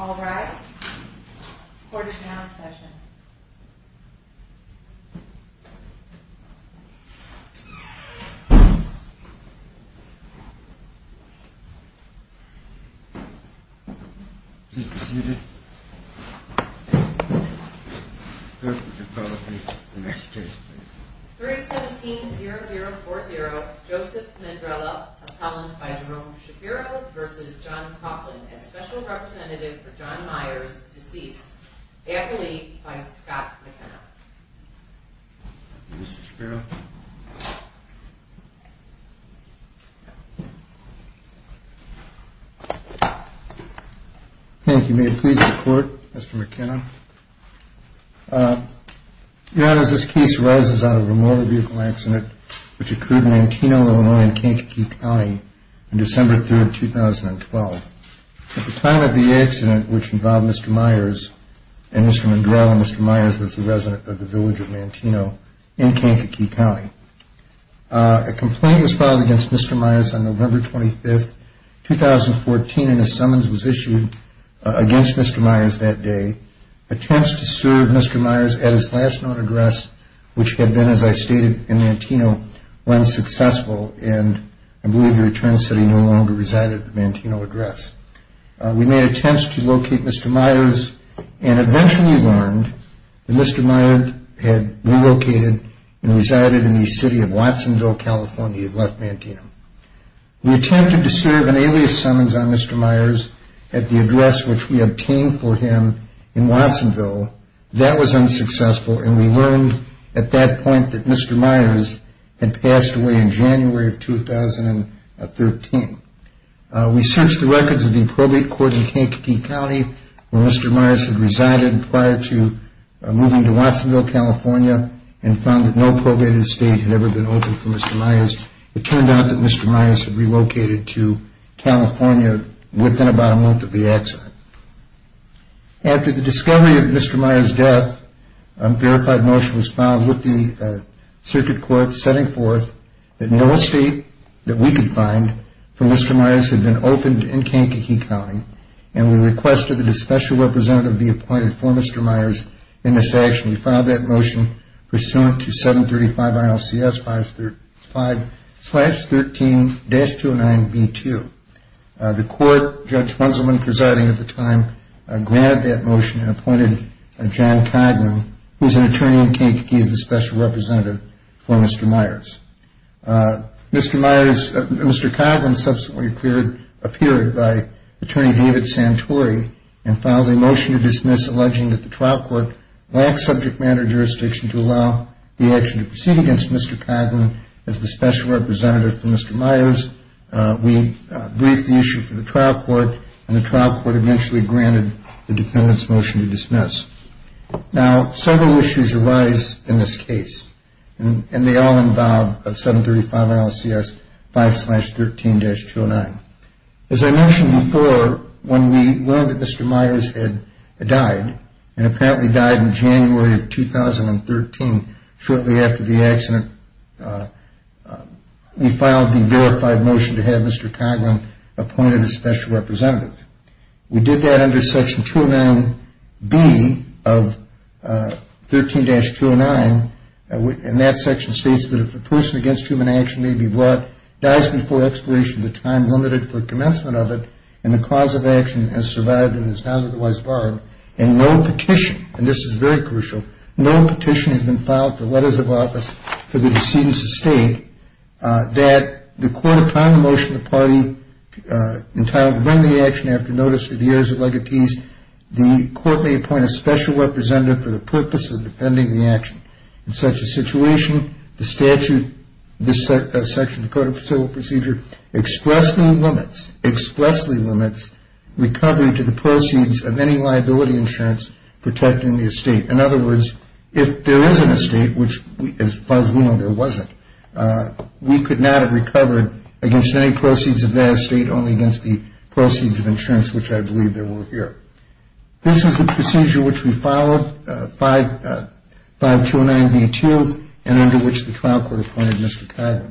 All rise. Court is now in session. Please be seated. The clerk will call the case. The next case, please. 317-0040, Joseph Mandrella, appellant by Jerome Shapiro v. John Coghlan, as special representative for John Myers, deceased. Apperly by Scott McKenna. Mr. Shapiro. Thank you. May it please the Court, Mr. McKenna. Your Honor, this case arises out of a motor vehicle accident which occurred in Manteno, Illinois in Kankakee County on December 3, 2012. At the time of the accident, which involved Mr. Myers and Mr. Mandrella, Mr. Myers was a resident of the village of Manteno in Kankakee County. A complaint was filed against Mr. Myers on November 25, 2014, and a summons was issued against Mr. Myers that day. Attempts to serve Mr. Myers at his last known address, which had been, as I stated, in Manteno, were unsuccessful, and I believe your attorneys said he no longer resided at the Manteno address. We made attempts to locate Mr. Myers, and eventually learned that Mr. Myers had relocated and resided in the city of Watsonville, California, left Manteno. We attempted to serve an alias summons on Mr. Myers at the address which we obtained for him in Watsonville. That was unsuccessful, and we learned at that point that Mr. Myers had passed away in January of 2013. We searched the records of the probate court in Kankakee County where Mr. Myers had resided prior to moving to Watsonville, California, and found that no probated estate had ever been opened for Mr. Myers. It turned out that Mr. Myers had relocated to California within about a month of the accident. After the discovery of Mr. Myers' death, a verified motion was filed with the circuit court, setting forth that no estate that we could find for Mr. Myers had been opened in Kankakee County, and we requested that a special representative be appointed for Mr. Myers in this action. We filed that motion pursuant to 735 ILCS 535-13-209B2. The court, Judge Bunselman presiding at the time, granted that motion and appointed John Coghlan, who is an attorney in Kankakee, as the special representative for Mr. Myers. Mr. Coghlan subsequently appeared by Attorney David Santori and filed a motion to dismiss alleging that the trial court lacked subject matter jurisdiction to allow the action to proceed against Mr. Coghlan as the special representative for Mr. Myers. We briefed the issue for the trial court, and the trial court eventually granted the defendant's motion to dismiss. Now, several issues arise in this case, and they all involve 735 ILCS 535-13-209. As I mentioned before, when we learned that Mr. Myers had died, and apparently died in January of 2013 shortly after the accident, we filed the verified motion to have Mr. Coghlan appointed as special representative. We did that under Section 209B of 13-209, and that section states that if a person against human action may be brought, dies before expiration of the time limited for commencement of it, and the cause of action has survived and is not otherwise borrowed, and no petition, and this is very crucial, no petition has been filed for letters of office for the decedent's estate, that the court upon the motion of the party entitled to bring the action after notice to the heirs of legatees, the court may appoint a special representative for the purpose of defending the action. In such a situation, the statute, this section of the Code of Civil Procedure, expressly limits, expressly limits recovery to the proceeds of any liability insurance protecting the estate. In other words, if there is an estate, which as far as we know there wasn't, we could not have recovered against any proceeds of that estate, only against the proceeds of insurance, which I believe there were here. This is the procedure which we followed, 5209B-2, and under which the trial court appointed Mr. Coghlan.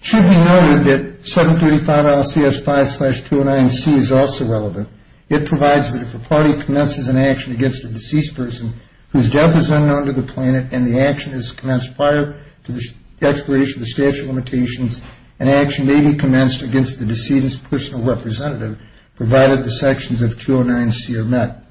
It should be noted that 735 LCS 5-209C is also relevant. It provides that if a party commences an action against a deceased person whose death is unknown to the planet and the action is commenced prior to the expiration of the statute of limitations, an action may be commenced against the decedent's personal representative, provided the sections of 209C are met.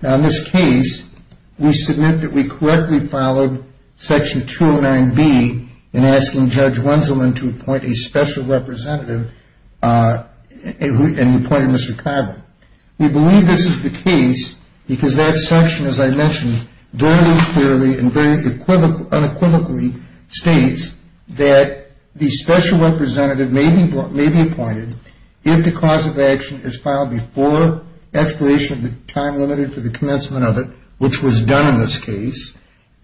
Now in this case, we submit that we correctly followed section 209B in asking Judge Wenzelman to appoint a special representative and appointed Mr. Coghlan. We believe this is the case because that section, as I mentioned, very clearly and very unequivocally states that the special representative may be appointed if the cause of action is filed before expiration of the time limited for the commencement of it, which was done in this case,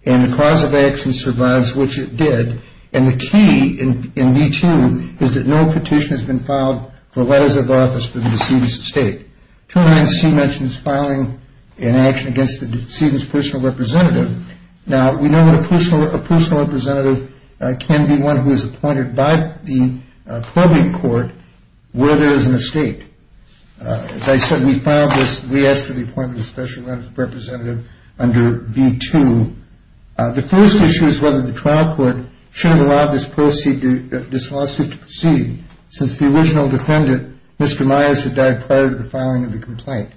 and the cause of action survives, which it did. And the key in B-2 is that no petition has been filed for letters of office to the decedent's estate. 209C mentions filing an action against the decedent's personal representative. Now, we know that a personal representative can be one who is appointed by the probing court where there is an estate. As I said, we asked for the appointment of a special representative under B-2. The first issue is whether the trial court should have allowed this lawsuit to proceed, since the original defendant, Mr. Myers, had died prior to the filing of the complaint.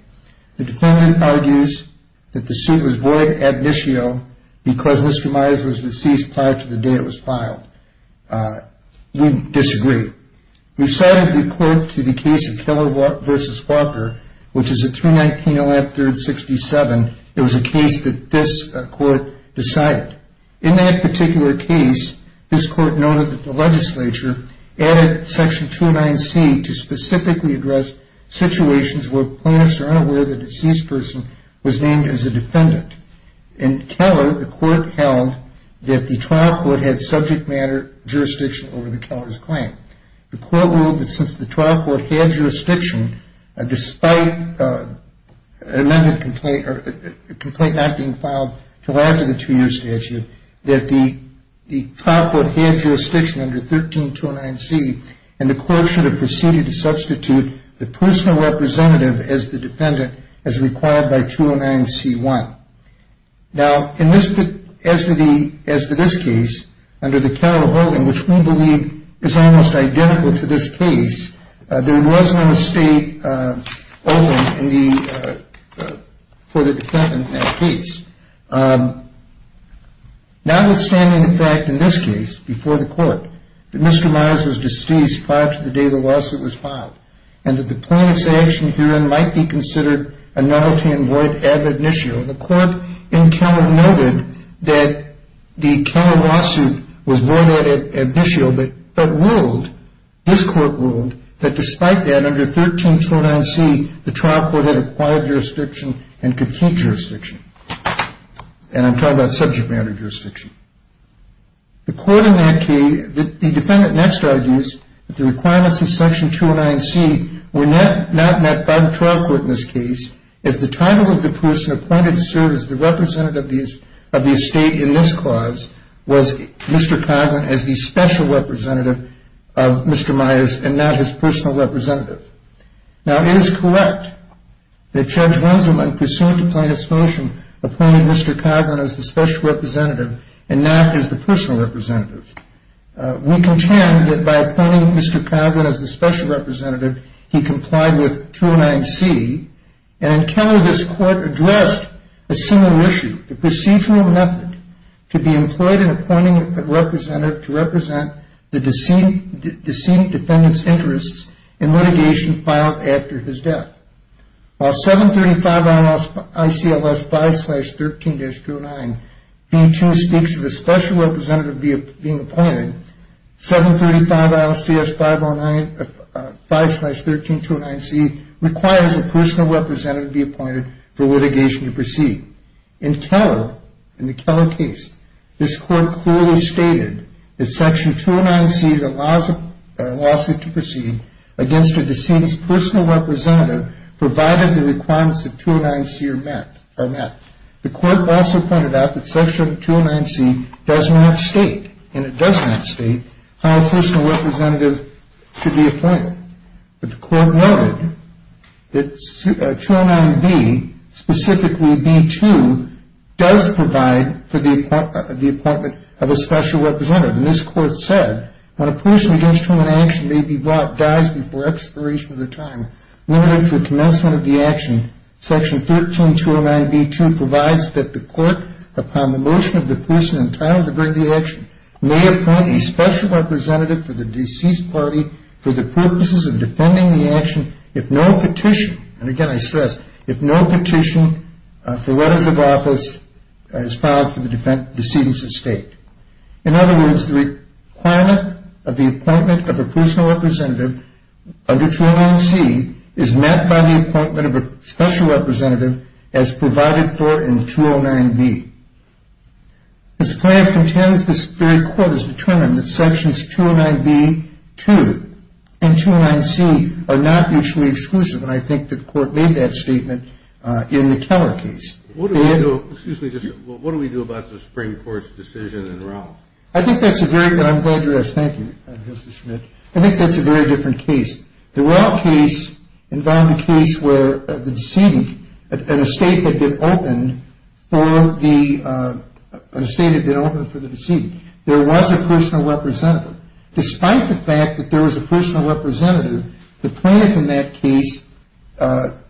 The defendant argues that the suit was void ad nitio because Mr. Myers was deceased prior to the day it was filed. We disagree. We cited the court to the case of Keller v. Walker, which is at 319 Allant 3rd, 67. It was a case that this court decided. In that particular case, this court noted that the legislature added Section 209C to specifically address situations where plaintiffs are unaware the deceased person was named as a defendant. In Keller, the court held that the trial court had subject matter jurisdiction over the Keller's claim. The court ruled that since the trial court had jurisdiction, despite an amended complaint or a complaint not being filed until after the two-year statute, that the trial court had jurisdiction under 13209C, and the court should have proceeded to substitute the personal representative as the defendant as required by 209C1. Now, as to this case, under the Keller ruling, which we believe is almost identical to this case, there was no mistake open for the defendant in that case. Notwithstanding the fact, in this case, before the court, that Mr. Myers was deceased prior to the day the lawsuit was filed and that the plaintiff's action herein might be considered a novelty and void of ab initio, the court in Keller noted that the Keller lawsuit was void of ab initio, but ruled, this court ruled, that despite that, under 13209C, the trial court had acquired jurisdiction and complete jurisdiction. And I'm talking about subject matter jurisdiction. The court in that case, the defendant next argues that the requirements of section 209C were not met by the trial court in this case, as the title of the person appointed to serve as the representative of the estate in this clause was Mr. Coghlan as the special representative of Mr. Myers and not his personal representative. Now, it is correct that Judge Rosenblum, in pursuit of plaintiff's motion, appointed Mr. Coghlan as the special representative and not as the personal representative. We contend that by appointing Mr. Coghlan as the special representative, he complied with 209C, and in Keller, this court addressed a similar issue, the procedural method to be employed in appointing a representative to represent the decedent defendant's interests in litigation filed after his death. While 735-ICLS-5-13-209B2 speaks of a special representative being appointed, 735-ICLS-5-13-209C requires a personal representative to be appointed for litigation to proceed. In Keller, in the Keller case, this court clearly stated that section 209C allows a lawsuit to proceed against a decedent's personal representative provided the requirements of 209C are met. The court also pointed out that section 209C does not state, and it does not state, how a personal representative should be appointed. But the court noted that 209B, specifically B2, does provide for the appointment of a special representative. And this court said, when a person against whom an action may be brought dies before expiration of the time limited for commencement of the action, section 13209B2 provides that the court, upon the motion of the person entitled to bring the action, may appoint a special representative for the deceased party for the purposes of defending the action if no petition, and again I stress, if no petition for letters of office is filed for the decedent's estate. In other words, the requirement of the appointment of a personal representative under 209C is met by the appointment of a special representative as provided for in 209B. As the plaintiff contends, this very court has determined that sections 209B2 and 209C are not mutually exclusive, and I think the court made that statement in the Keller case. What do we do about the Supreme Court's decision in Rouse? I'm glad you asked. Thank you, Mr. Schmidt. I think that's a very different case. The Rouse case involved a case where the decedent, an estate that had been opened for the decedent, there was a personal representative. Despite the fact that there was a personal representative, the plaintiff in that case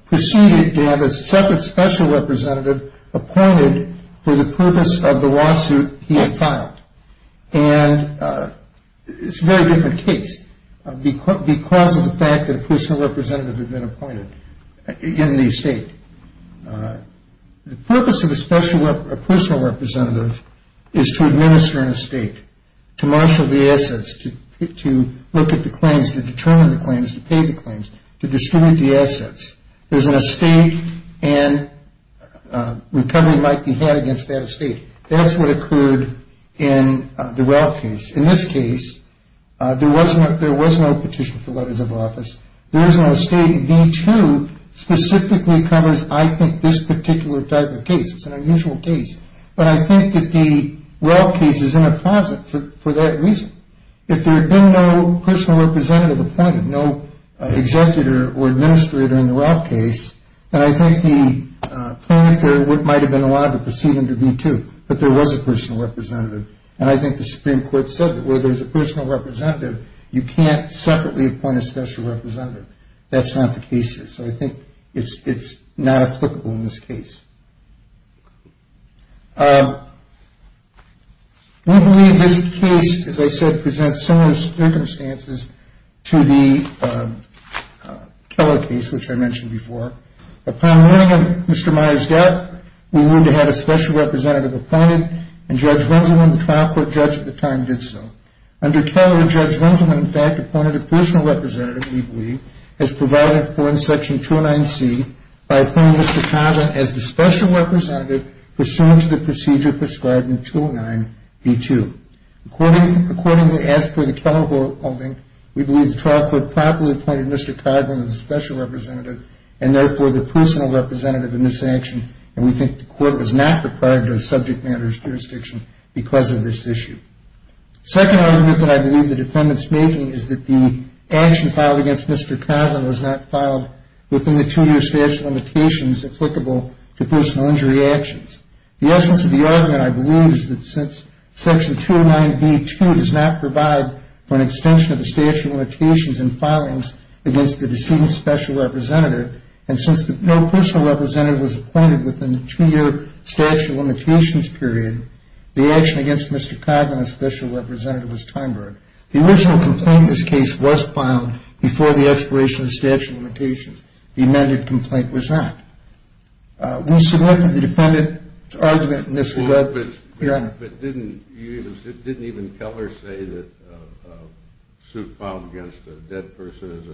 proceeded to have a separate special representative appointed for the purpose of the lawsuit he had filed, and it's a very different case because of the fact that a personal representative had been appointed in the estate. The purpose of a personal representative is to administer an estate, to marshal the assets, to look at the claims, to determine the claims, to pay the claims, to distribute the assets. There's an estate, and recovery might be had against that estate. That's what occurred in the Rouse case. In this case, there was no petition for letters of office. The original estate in B2 specifically covers, I think, this particular type of case. It's an unusual case, but I think that the Rouse case is in a closet for that reason. If there had been no personal representative appointed, no executor or administrator in the Rouse case, then I think the plaintiff there might have been allowed to proceed into B2, but there was a personal representative, and I think the Supreme Court said that where there's a personal representative, you can't separately appoint a special representative. That's not the case here, so I think it's not applicable in this case. We believe this case, as I said, presents similar circumstances to the Keller case, which I mentioned before. Upon learning of Mr. Meyer's death, we learned he had a special representative appointed, and Judge Venselman, the trial court judge at the time, did so. Under Keller, Judge Venselman, in fact, appointed a personal representative, we believe, as provided for in Section 209C, by appointing Mr. Coghlan as the special representative pursuant to the procedure prescribed in 209B2. Accordingly, as per the Keller holding, we believe the trial court properly appointed Mr. Coghlan as the special representative and therefore the personal representative in this action, and we think the court was not required to subject matters jurisdiction because of this issue. The second argument that I believe the defendant's making is that the action filed against Mr. Coghlan was not filed within the two-year statute of limitations applicable to personal injury actions. The essence of the argument, I believe, is that since Section 209B2 does not provide for an extension of the statute of limitations in filings against the deceased special representative, and since no personal representative was appointed within the two-year statute of limitations period, the action against Mr. Coghlan as special representative was time-barred. The original complaint in this case was filed before the expiration of the statute of limitations. The amended complaint was not. We selected the defendant's argument in this regard. But didn't even Keller say that a suit filed against a dead person is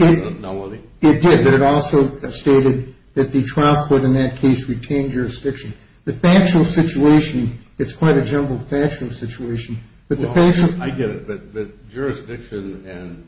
an anomaly? It did, but it also stated that the trial court in that case retained jurisdiction. The factual situation, it's quite a jumbled factual situation. I get it, but jurisdiction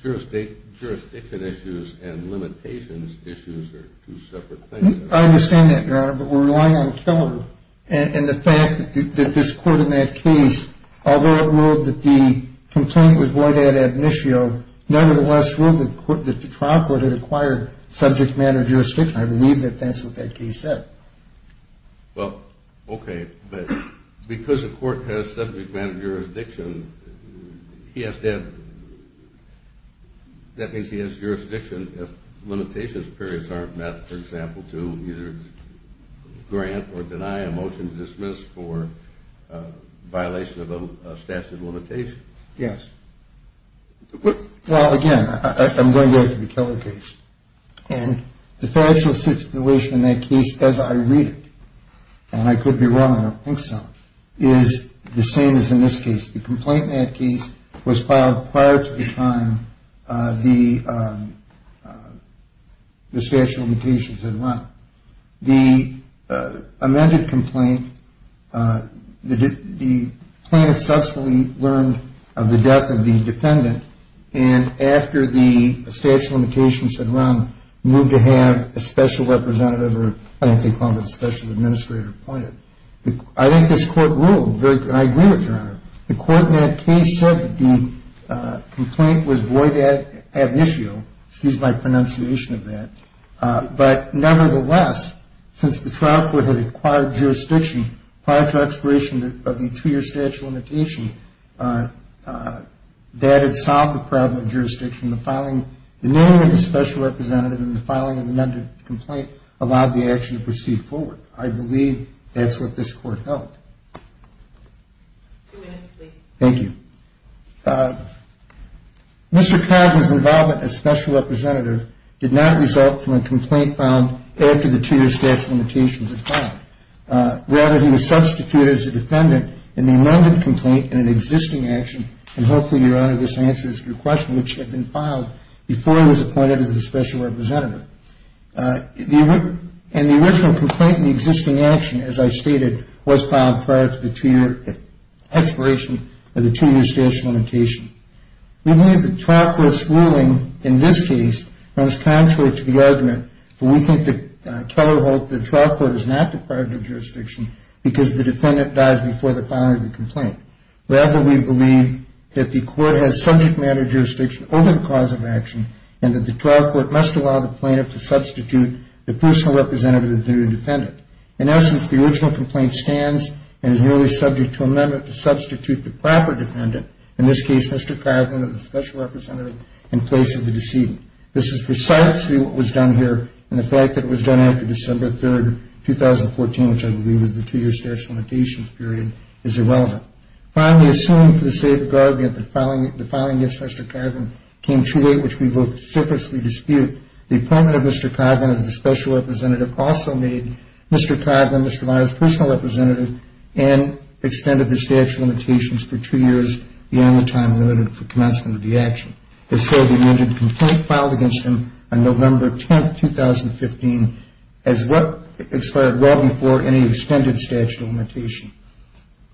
issues and limitations issues are two separate things. I understand that, Your Honor, but we're relying on Keller. And the fact that this court in that case, although it ruled that the complaint was void ad admissio, nevertheless ruled that the trial court had acquired subject matter jurisdiction, I believe that that's what that case said. Well, okay, but because the court has subject matter jurisdiction, he has to have, that means he has jurisdiction if limitations periods aren't met, for example, to either grant or deny a motion to dismiss for violation of a statute of limitation. Yes. Well, again, I'm going back to the Keller case. And the factual situation in that case, as I read it, and I could be wrong, I don't think so, is the same as in this case. The complaint in that case was filed prior to the time the statute of limitations had run. The amended complaint, the plaintiff subsequently learned of the death of the defendant, and after the statute of limitations had run, moved to have a special representative or I think they called it a special administrator appointed. I think this court ruled, and I agree with you, Your Honor, the court in that case said that the complaint was void ad admissio, excuse my pronunciation of that, but nevertheless, since the trial court had acquired jurisdiction prior to expiration of the two-year statute of limitation, that had solved the problem of jurisdiction. The naming of the special representative in the filing of the amended complaint allowed the action to proceed forward. I believe that's what this court held. Two minutes, please. Thank you. Mr. Cobb's involvement as special representative did not result from a complaint filed after the two-year statute of limitations had filed. Rather, he was substituted as a defendant in the amended complaint in an existing action, and hopefully, Your Honor, this answers your question, which had been filed before he was appointed as a special representative. And the original complaint in the existing action, as I stated, was filed prior to the two-year expiration of the two-year statute of limitation. We believe the trial court's ruling in this case runs contrary to the argument, for we think the trial court is not deprived of jurisdiction because the defendant dies before the filing of the complaint. Rather, we believe that the court has subject matter jurisdiction over the cause of action, and that the trial court must allow the plaintiff to substitute the personal representative as their new defendant. In essence, the original complaint stands and is merely subject to amendment to substitute the proper defendant, in this case, Mr. Cobb, as a special representative, in place of the decedent. This is precisely what was done here, and the fact that it was done after December 3, 2014, which I believe is the two-year statute of limitations period, is irrelevant. Finally, assuming for the sake of argument that the filing against Mr. Cobb came too late, which we vociferously dispute, the appointment of Mr. Cobb as the special representative also made Mr. Cobb and Mr. Meyer's personal representative and extended the statute of limitations for two years beyond the time limited for commencement of the action. It's said the amended complaint filed against him on November 10, 2015, expired well before any extended statute of limitation.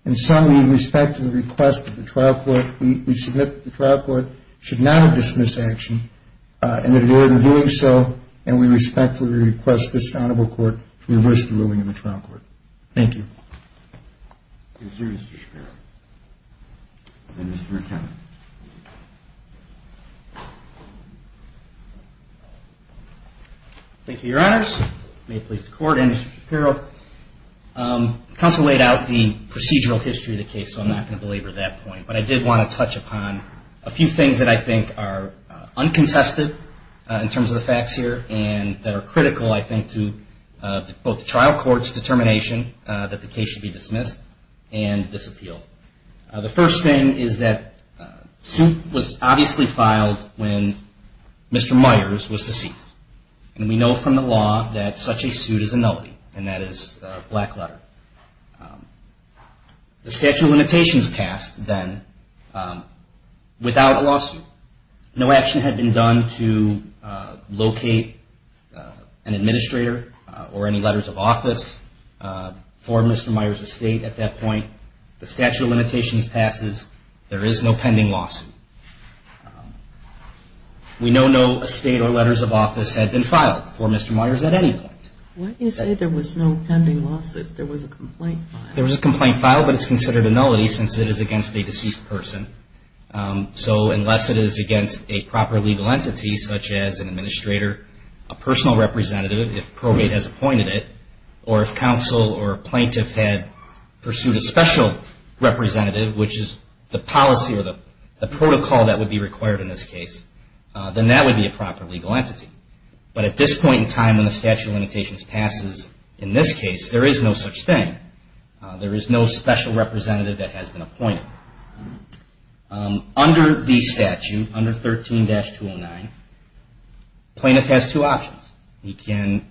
In sum, we respect the request of the trial court. We submit that the trial court should not have dismissed action, and in doing so, and we respectfully request this Honorable Court to reverse the ruling in the trial court. Thank you. Thank you, Mr. Shapiro. And Mr. McKenna. Thank you, Your Honors. May it please the Court and Mr. Shapiro. Counsel laid out the procedural history of the case, so I'm not going to belabor that point, but I did want to touch upon a few things that I think are uncontested in terms of the facts here and that are critical, I think, to both the trial court's determination that the case should be dismissed and disappealed. The first thing is that Soot was obviously filed when Mr. Meyers was deceased, and we know from the law that such a Soot is a nullity, and that is a black letter. The statute of limitations passed then without a lawsuit. No action had been done to locate an administrator or any letters of office for Mr. Meyers' estate at that point. The statute of limitations passes. There is no pending lawsuit. We know no estate or letters of office had been filed for Mr. Meyers at any point. Why do you say there was no pending lawsuit? There was a complaint file. There was a complaint file, but it's considered a nullity since it is against a deceased person. So unless it is against a proper legal entity, such as an administrator, a personal representative, if probate has appointed it, or if counsel or plaintiff had pursued a special representative, which is the policy or the protocol that would be required in this case, then that would be a proper legal entity. But at this point in time when the statute of limitations passes, in this case, there is no such thing. There is no special representative that has been appointed. Under the statute, under 13-209, plaintiff has two options. He can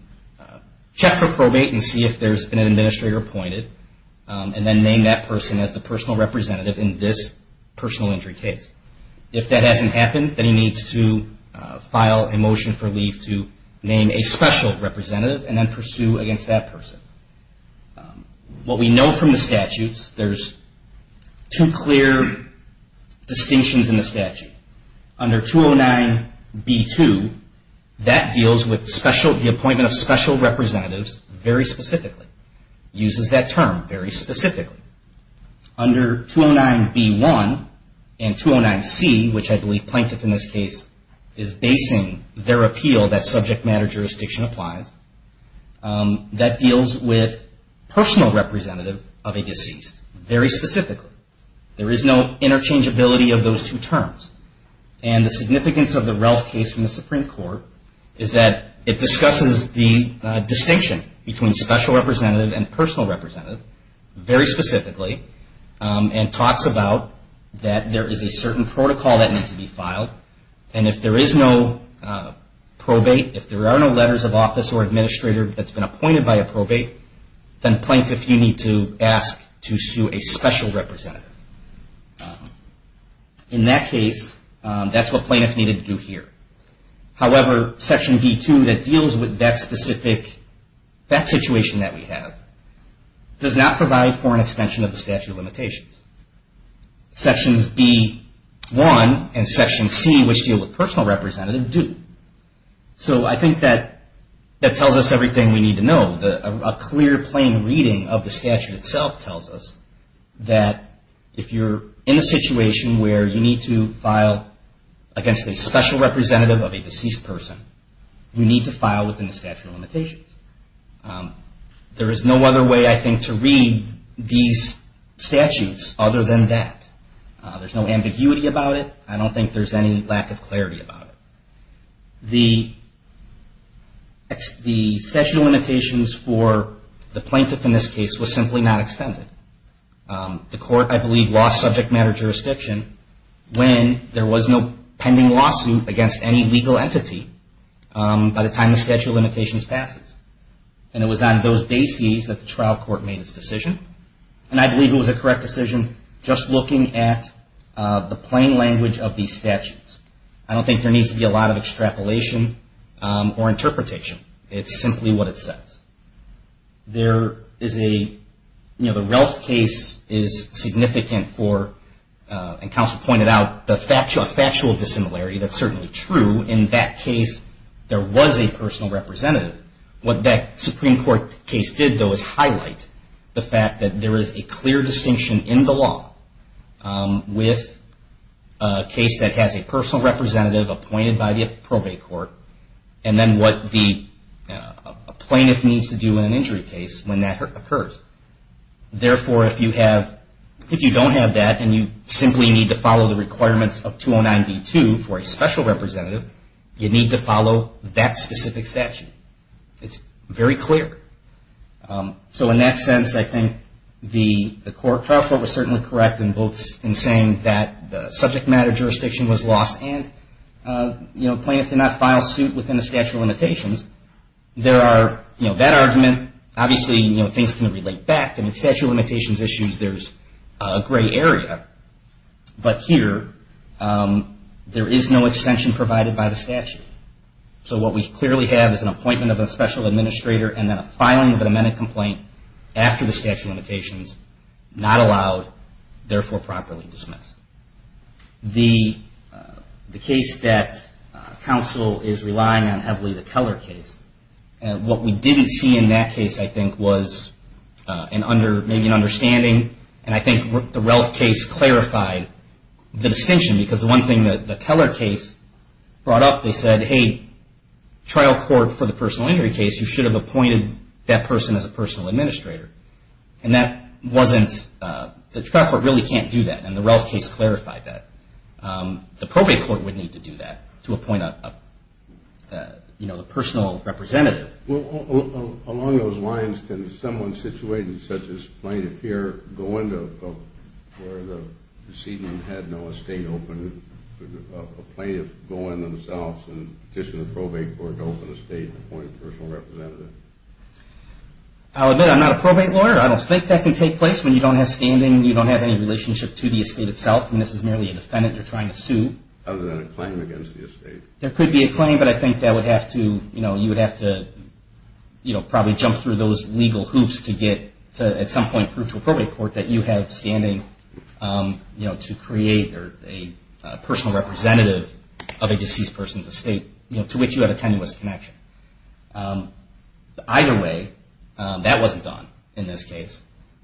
check for probate and see if there has been an administrator appointed, and then name that person as the personal representative in this personal injury case. If that hasn't happened, then he needs to file a motion for leave to name a special representative and then pursue against that person. What we know from the statutes, there's two clear distinctions in the statute. Under 209-B-2, that deals with the appointment of special representatives very specifically. It uses that term very specifically. Under 209-B-1 and 209-C, which I believe plaintiff in this case is basing their appeal, that subject matter jurisdiction applies, that deals with personal representative of a deceased very specifically. There is no interchangeability of those two terms. And the significance of the Ralph case from the Supreme Court is that it discusses the distinction between special representative and personal representative very specifically and talks about that there is a certain protocol that needs to be filed. And if there is no probate, if there are no letters of office or administrator that's been appointed by a probate, then plaintiff, you need to ask to sue a special representative. In that case, that's what plaintiffs needed to do here. However, Section B-2 that deals with that specific, that situation that we have, does not provide for an extension of the statute of limitations. Sections B-1 and Section C, which deal with personal representative, do. So I think that tells us everything we need to know. A clear plain reading of the statute itself tells us that if you're in a situation where you need to file against a special representative of a deceased person, you need to file within the statute of limitations. There is no other way, I think, to read these statutes other than that. There's no ambiguity about it. I don't think there's any lack of clarity about it. The statute of limitations for the plaintiff in this case was simply not extended. The court, I believe, lost subject matter jurisdiction when there was no pending lawsuit against any legal entity by the time the statute of limitations passes. And it was on those bases that the trial court made its decision. And I believe it was a correct decision just looking at the plain language of these statutes. I don't think there needs to be a lot of extrapolation or interpretation. It's simply what it says. There is a, you know, the Relf case is significant for, and counsel pointed out, a factual dissimilarity. That's certainly true. In that case, there was a personal representative. What that Supreme Court case did, though, is highlight the fact that there is a clear distinction in the law with a case that has a personal representative appointed by the probate court. And then what the plaintiff needs to do in an injury case when that occurs. Therefore, if you don't have that and you simply need to follow the requirements of 209B2 for a special representative, you need to follow that specific statute. It's very clear. So in that sense, I think the trial court was certainly correct in saying that the subject matter jurisdiction was lost. And, you know, plaintiffs did not file suit within the statute of limitations. There are, you know, that argument. Obviously, you know, things can relate back. And in statute of limitations issues, there's a gray area. But here, there is no extension provided by the statute. So what we clearly have is an appointment of a special administrator and then a filing of an amended complaint after the statute of limitations, not allowed, therefore properly dismissed. The case that counsel is relying on heavily, the Keller case. And what we didn't see in that case, I think, was maybe an understanding. And I think the Relf case clarified the distinction. Because the one thing that the Keller case brought up, they said, hey, trial court for the personal injury case, you should have appointed that person as a personal administrator. And that wasn't, the trial court really can't do that. And the Relf case clarified that. The probate court would need to do that to appoint a, you know, a personal representative. Well, along those lines, can someone situated such as plaintiff here go into, where the proceeding had no estate open, a plaintiff go in themselves and petition the probate court to open the estate and appoint a personal representative? I'll admit I'm not a probate lawyer. I don't think that can take place when you don't have standing, you don't have any relationship to the estate itself. I mean, this is merely a defendant you're trying to sue. Other than a claim against the estate. There could be a claim, but I think that would have to, you know, you would have to, you know, probably jump through those legal hoops to get, at some point, through to a probate court that you have standing, you know, to create a personal representative of a deceased person's estate, you know, to which you have a tenuous connection. Either way, that wasn't done in this case.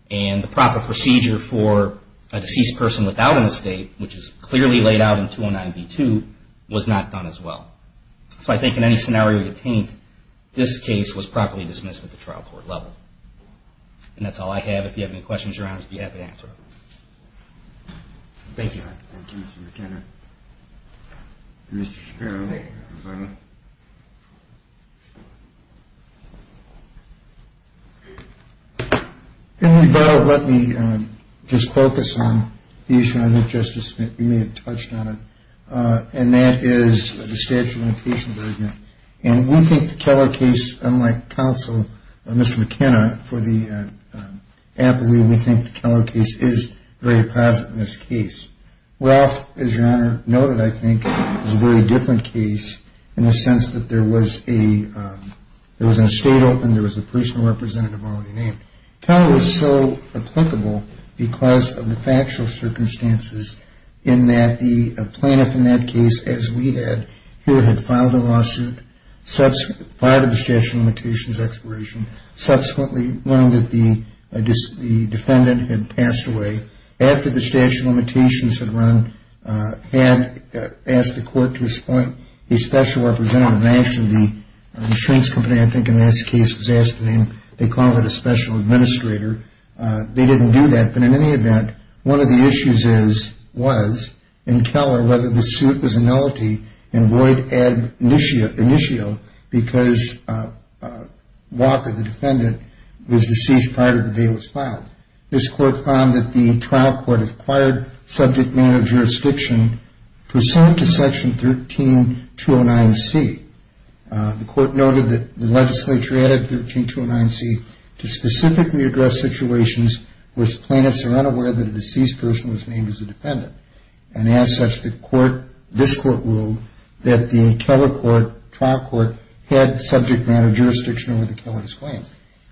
And the proper procedure for a deceased person without an estate, which is clearly laid out in 209B2, was not done as well. So I think in any scenario you paint, this case was properly dismissed at the trial court level. And that's all I have. If you have any questions, Your Honor, I'd be happy to answer them. Thank you. Thank you, Mr. McKenna. Mr. Sparrow. Let me just focus on the issue, I think, Justice Smith, you may have touched on it, and that is the statute of limitations argument. And we think the Keller case, unlike counsel, Mr. McKenna, for the appellee, we think the Keller case is very positive in this case. Ralph, as Your Honor noted, I think, is a very different case in the sense that there was an estate open, there was a personal representative already named. Keller was so applicable because of the factual circumstances in that the plaintiff in that case, as we had, here had filed a lawsuit, filed a statute of limitations expiration, subsequently learned that the defendant had passed away. The plaintiff, after the statute of limitations had run, had asked the court to appoint a special representative. Actually, the insurance company, I think, in that case, was asking them to call it a special administrator. They didn't do that. But in any event, one of the issues was in Keller whether the suit was annullity and void initio because Walker, the defendant, was deceased prior to the day it was filed. This court found that the trial court acquired subject matter jurisdiction pursuant to Section 13209C. The court noted that the legislature added 13209C to specifically address situations where plaintiffs are unaware that a deceased person was named as a defendant and as such this court ruled that the Keller trial court had subject matter jurisdiction over the Keller's claim.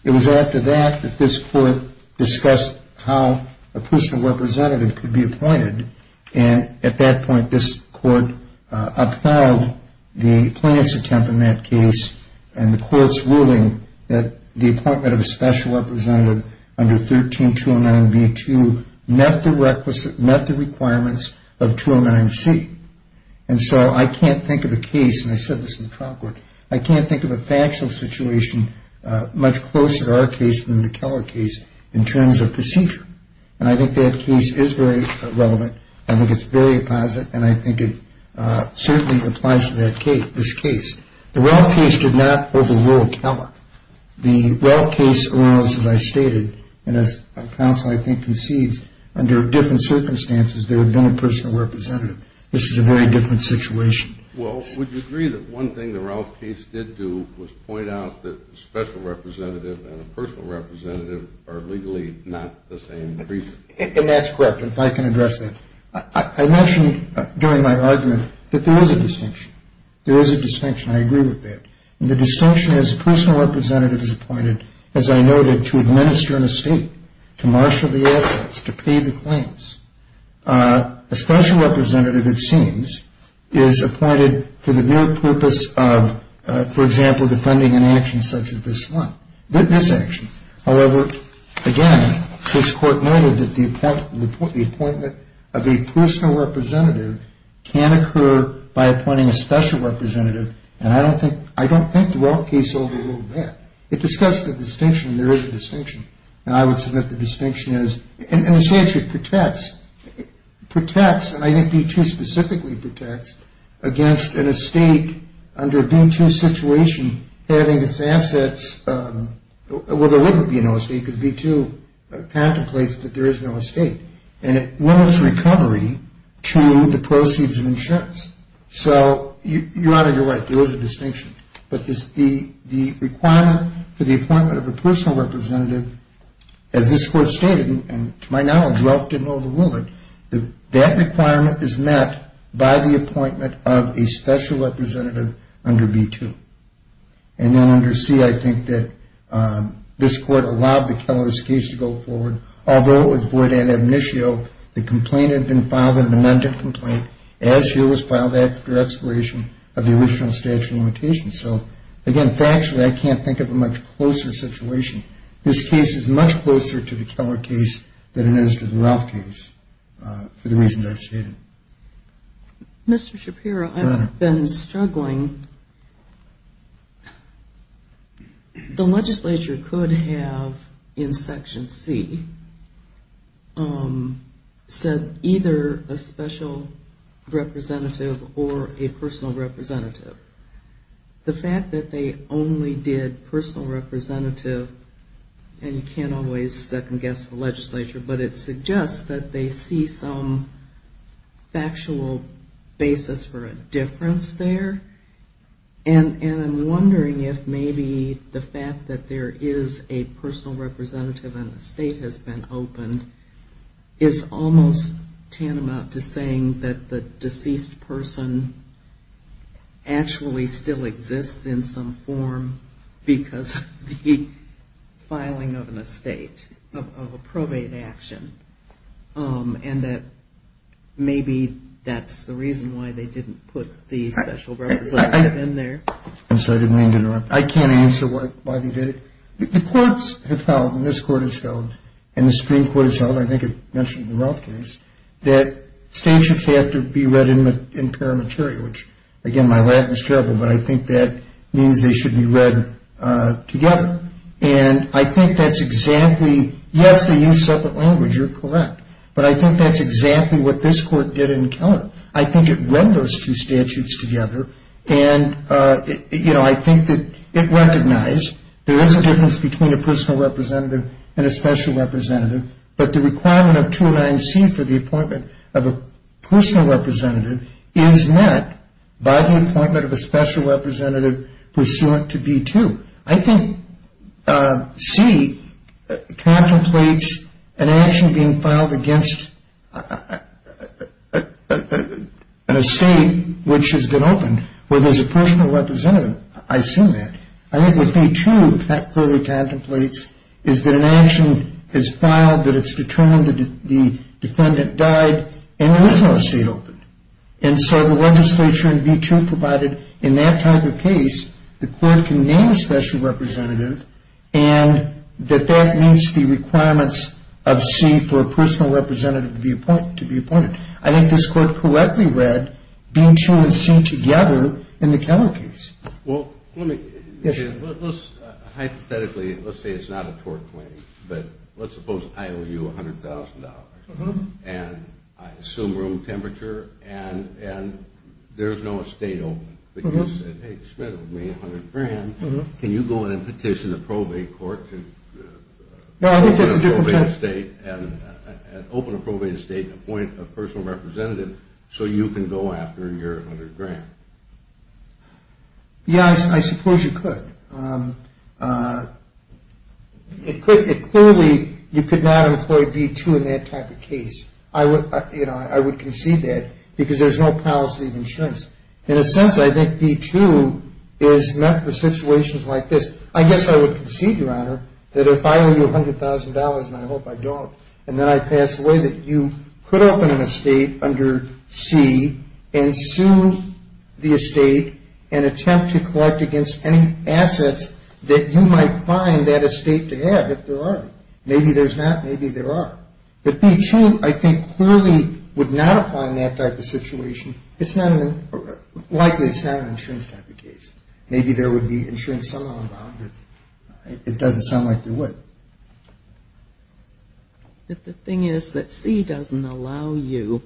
It was after that that this court discussed how a personal representative could be appointed and at that point this court upheld the plaintiff's attempt in that case and the court's ruling that the appointment of a special representative under 13209B2 met the requirements of 209C. And so I can't think of a case, and I said this in the trial court, I can't think of a factual situation much closer to our case than the Keller case in terms of procedure. And I think that case is very relevant and I think it's very positive and I think it certainly applies to that case, this case. The Ralph case did not overrule Keller. The Ralph case, as I stated, and as counsel I think concedes, under different circumstances there would have been a personal representative. This is a very different situation. Well, would you agree that one thing the Ralph case did do was point out that a special representative and a personal representative are legally not the same person? And that's correct. If I can address that. I mentioned during my argument that there is a distinction. There is a distinction. I agree with that. And the distinction is a personal representative is appointed, as I noted, to administer an estate, to marshal the assets, to pay the claims. A special representative, it seems, is appointed for the mere purpose of, for example, defending an action such as this one, this action. However, again, this Court noted that the appointment of a personal representative can occur by appointing a special representative, and I don't think the Ralph case overruled that. It discussed the distinction, and there is a distinction. And I would submit the distinction is, in a sense, it protects, protects, and I think B-2 specifically protects against an estate under a B-2 situation having its assets, well, there wouldn't be an estate because B-2 contemplates that there is no estate, and it limits recovery to the proceeds of insurance. But the requirement for the appointment of a personal representative, as this Court stated, and to my knowledge, Ralph didn't overrule it, that that requirement is met by the appointment of a special representative under B-2. And then under C, I think that this Court allowed the Keller case to go forward, although it was void ad amnitio. The complaint had been filed, an amended complaint, as here was filed after expiration of the original statute of limitations. So, again, factually, I can't think of a much closer situation. This case is much closer to the Keller case than it is to the Ralph case for the reasons I've stated. Mr. Shapiro, I've been struggling. The legislature could have, in Section C, said either a special representative or a personal representative. The fact that they only did personal representative, and you can't always second-guess the legislature, but it suggests that they see some factual basis for a difference there. And I'm wondering if maybe the fact that there is a personal representative and an estate has been opened is almost tantamount to saying that the deceased person actually still exists in some form because of the filing of an estate, of a probate action, and that maybe that's the reason why they didn't put the special representative in there. I'm sorry, I didn't mean to interrupt. I can't answer why they did it. The courts have held, and this Court has held, and the Supreme Court has held, I think it mentioned in the Ralph case, that statutes have to be read in paramateria, which, again, my Latin is terrible, but I think that means they should be read together. And I think that's exactly, yes, they use separate language, you're correct, but I think that's exactly what this Court did in Keller. I think it read those two statutes together, and, you know, I think that it recognized there is a difference between a personal representative and a special representative, but the requirement of 209C for the appointment of a personal representative is met by the appointment of a special representative pursuant to B-2. I think C contemplates an action being filed against an estate which has been opened where there's a personal representative. I assume that. I think what B-2 clearly contemplates is that an action is filed that it's determined that the defendant died in the original estate opened, and so the legislature in B-2 provided in that type of case the court can name a special representative and that that meets the requirements of C for a personal representative to be appointed. I think this Court correctly read B-2 and C together in the Keller case. Well, hypothetically, let's say it's not a tort claim, but let's suppose I owe you $100,000, and I assume room temperature, and there's no estate open, but you said, hey, it's $100,000. Can you go in and petition the probate court to open a probate estate and appoint a personal representative so you can go after your $100,000? Yeah, I suppose you could. Clearly, you could not employ B-2 in that type of case. I would concede that because there's no policy of insurance. In a sense, I think B-2 is meant for situations like this. I guess I would concede, Your Honor, that if I owe you $100,000, and I hope I don't, and then I pass away, that you could open an estate under C and sue the estate and attempt to collect against any assets that you might find that estate to have if there are any. Maybe there's not. Maybe there are. But B-2, I think, clearly would not apply in that type of situation. Likely, it's not an insurance type of case. Maybe there would be insurance somehow involved. It doesn't sound like there would. But the thing is that C doesn't allow you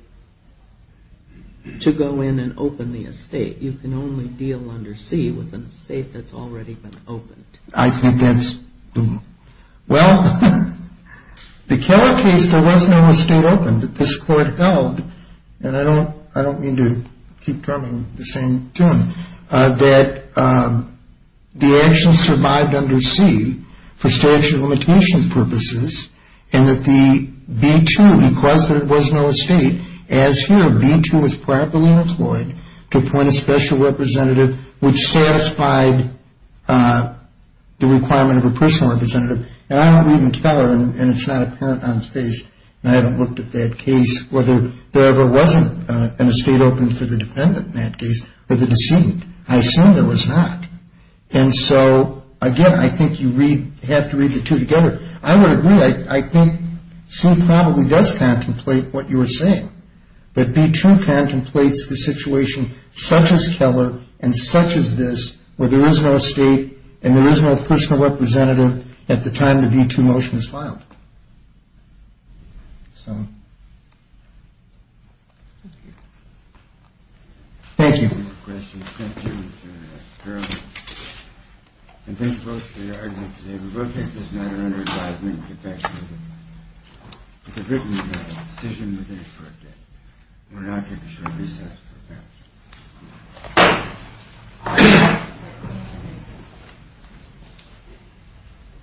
to go in and open the estate. You can only deal under C with an estate that's already been opened. I think that's true. Well, the Keller case, there was no estate opened that this court held, and I don't mean to keep drumming the same tune, that the action survived under C for statute of limitations purposes and that the B-2, because there was no estate, as here B-2 is properly employed to appoint a special representative which satisfied the requirement of a personal representative. And I don't believe in Keller, and it's not apparent on his face, and I haven't looked at that case, whether there ever wasn't an estate opened for the defendant in that case or the decedent. I assume there was not. And so, again, I think you have to read the two together. I would agree. I think C probably does contemplate what you were saying. But B-2 contemplates the situation such as Keller and such as this where there is no estate and there is no personal representative at the time the B-2 motion is filed. So. Thank you. Thank you. Thank you, Mr. Sterling. And thank you both for your argument today. We're going to take this matter under advisement and get back to you. It's a written decision within a court date. We're going to now take a short recess. Thank you.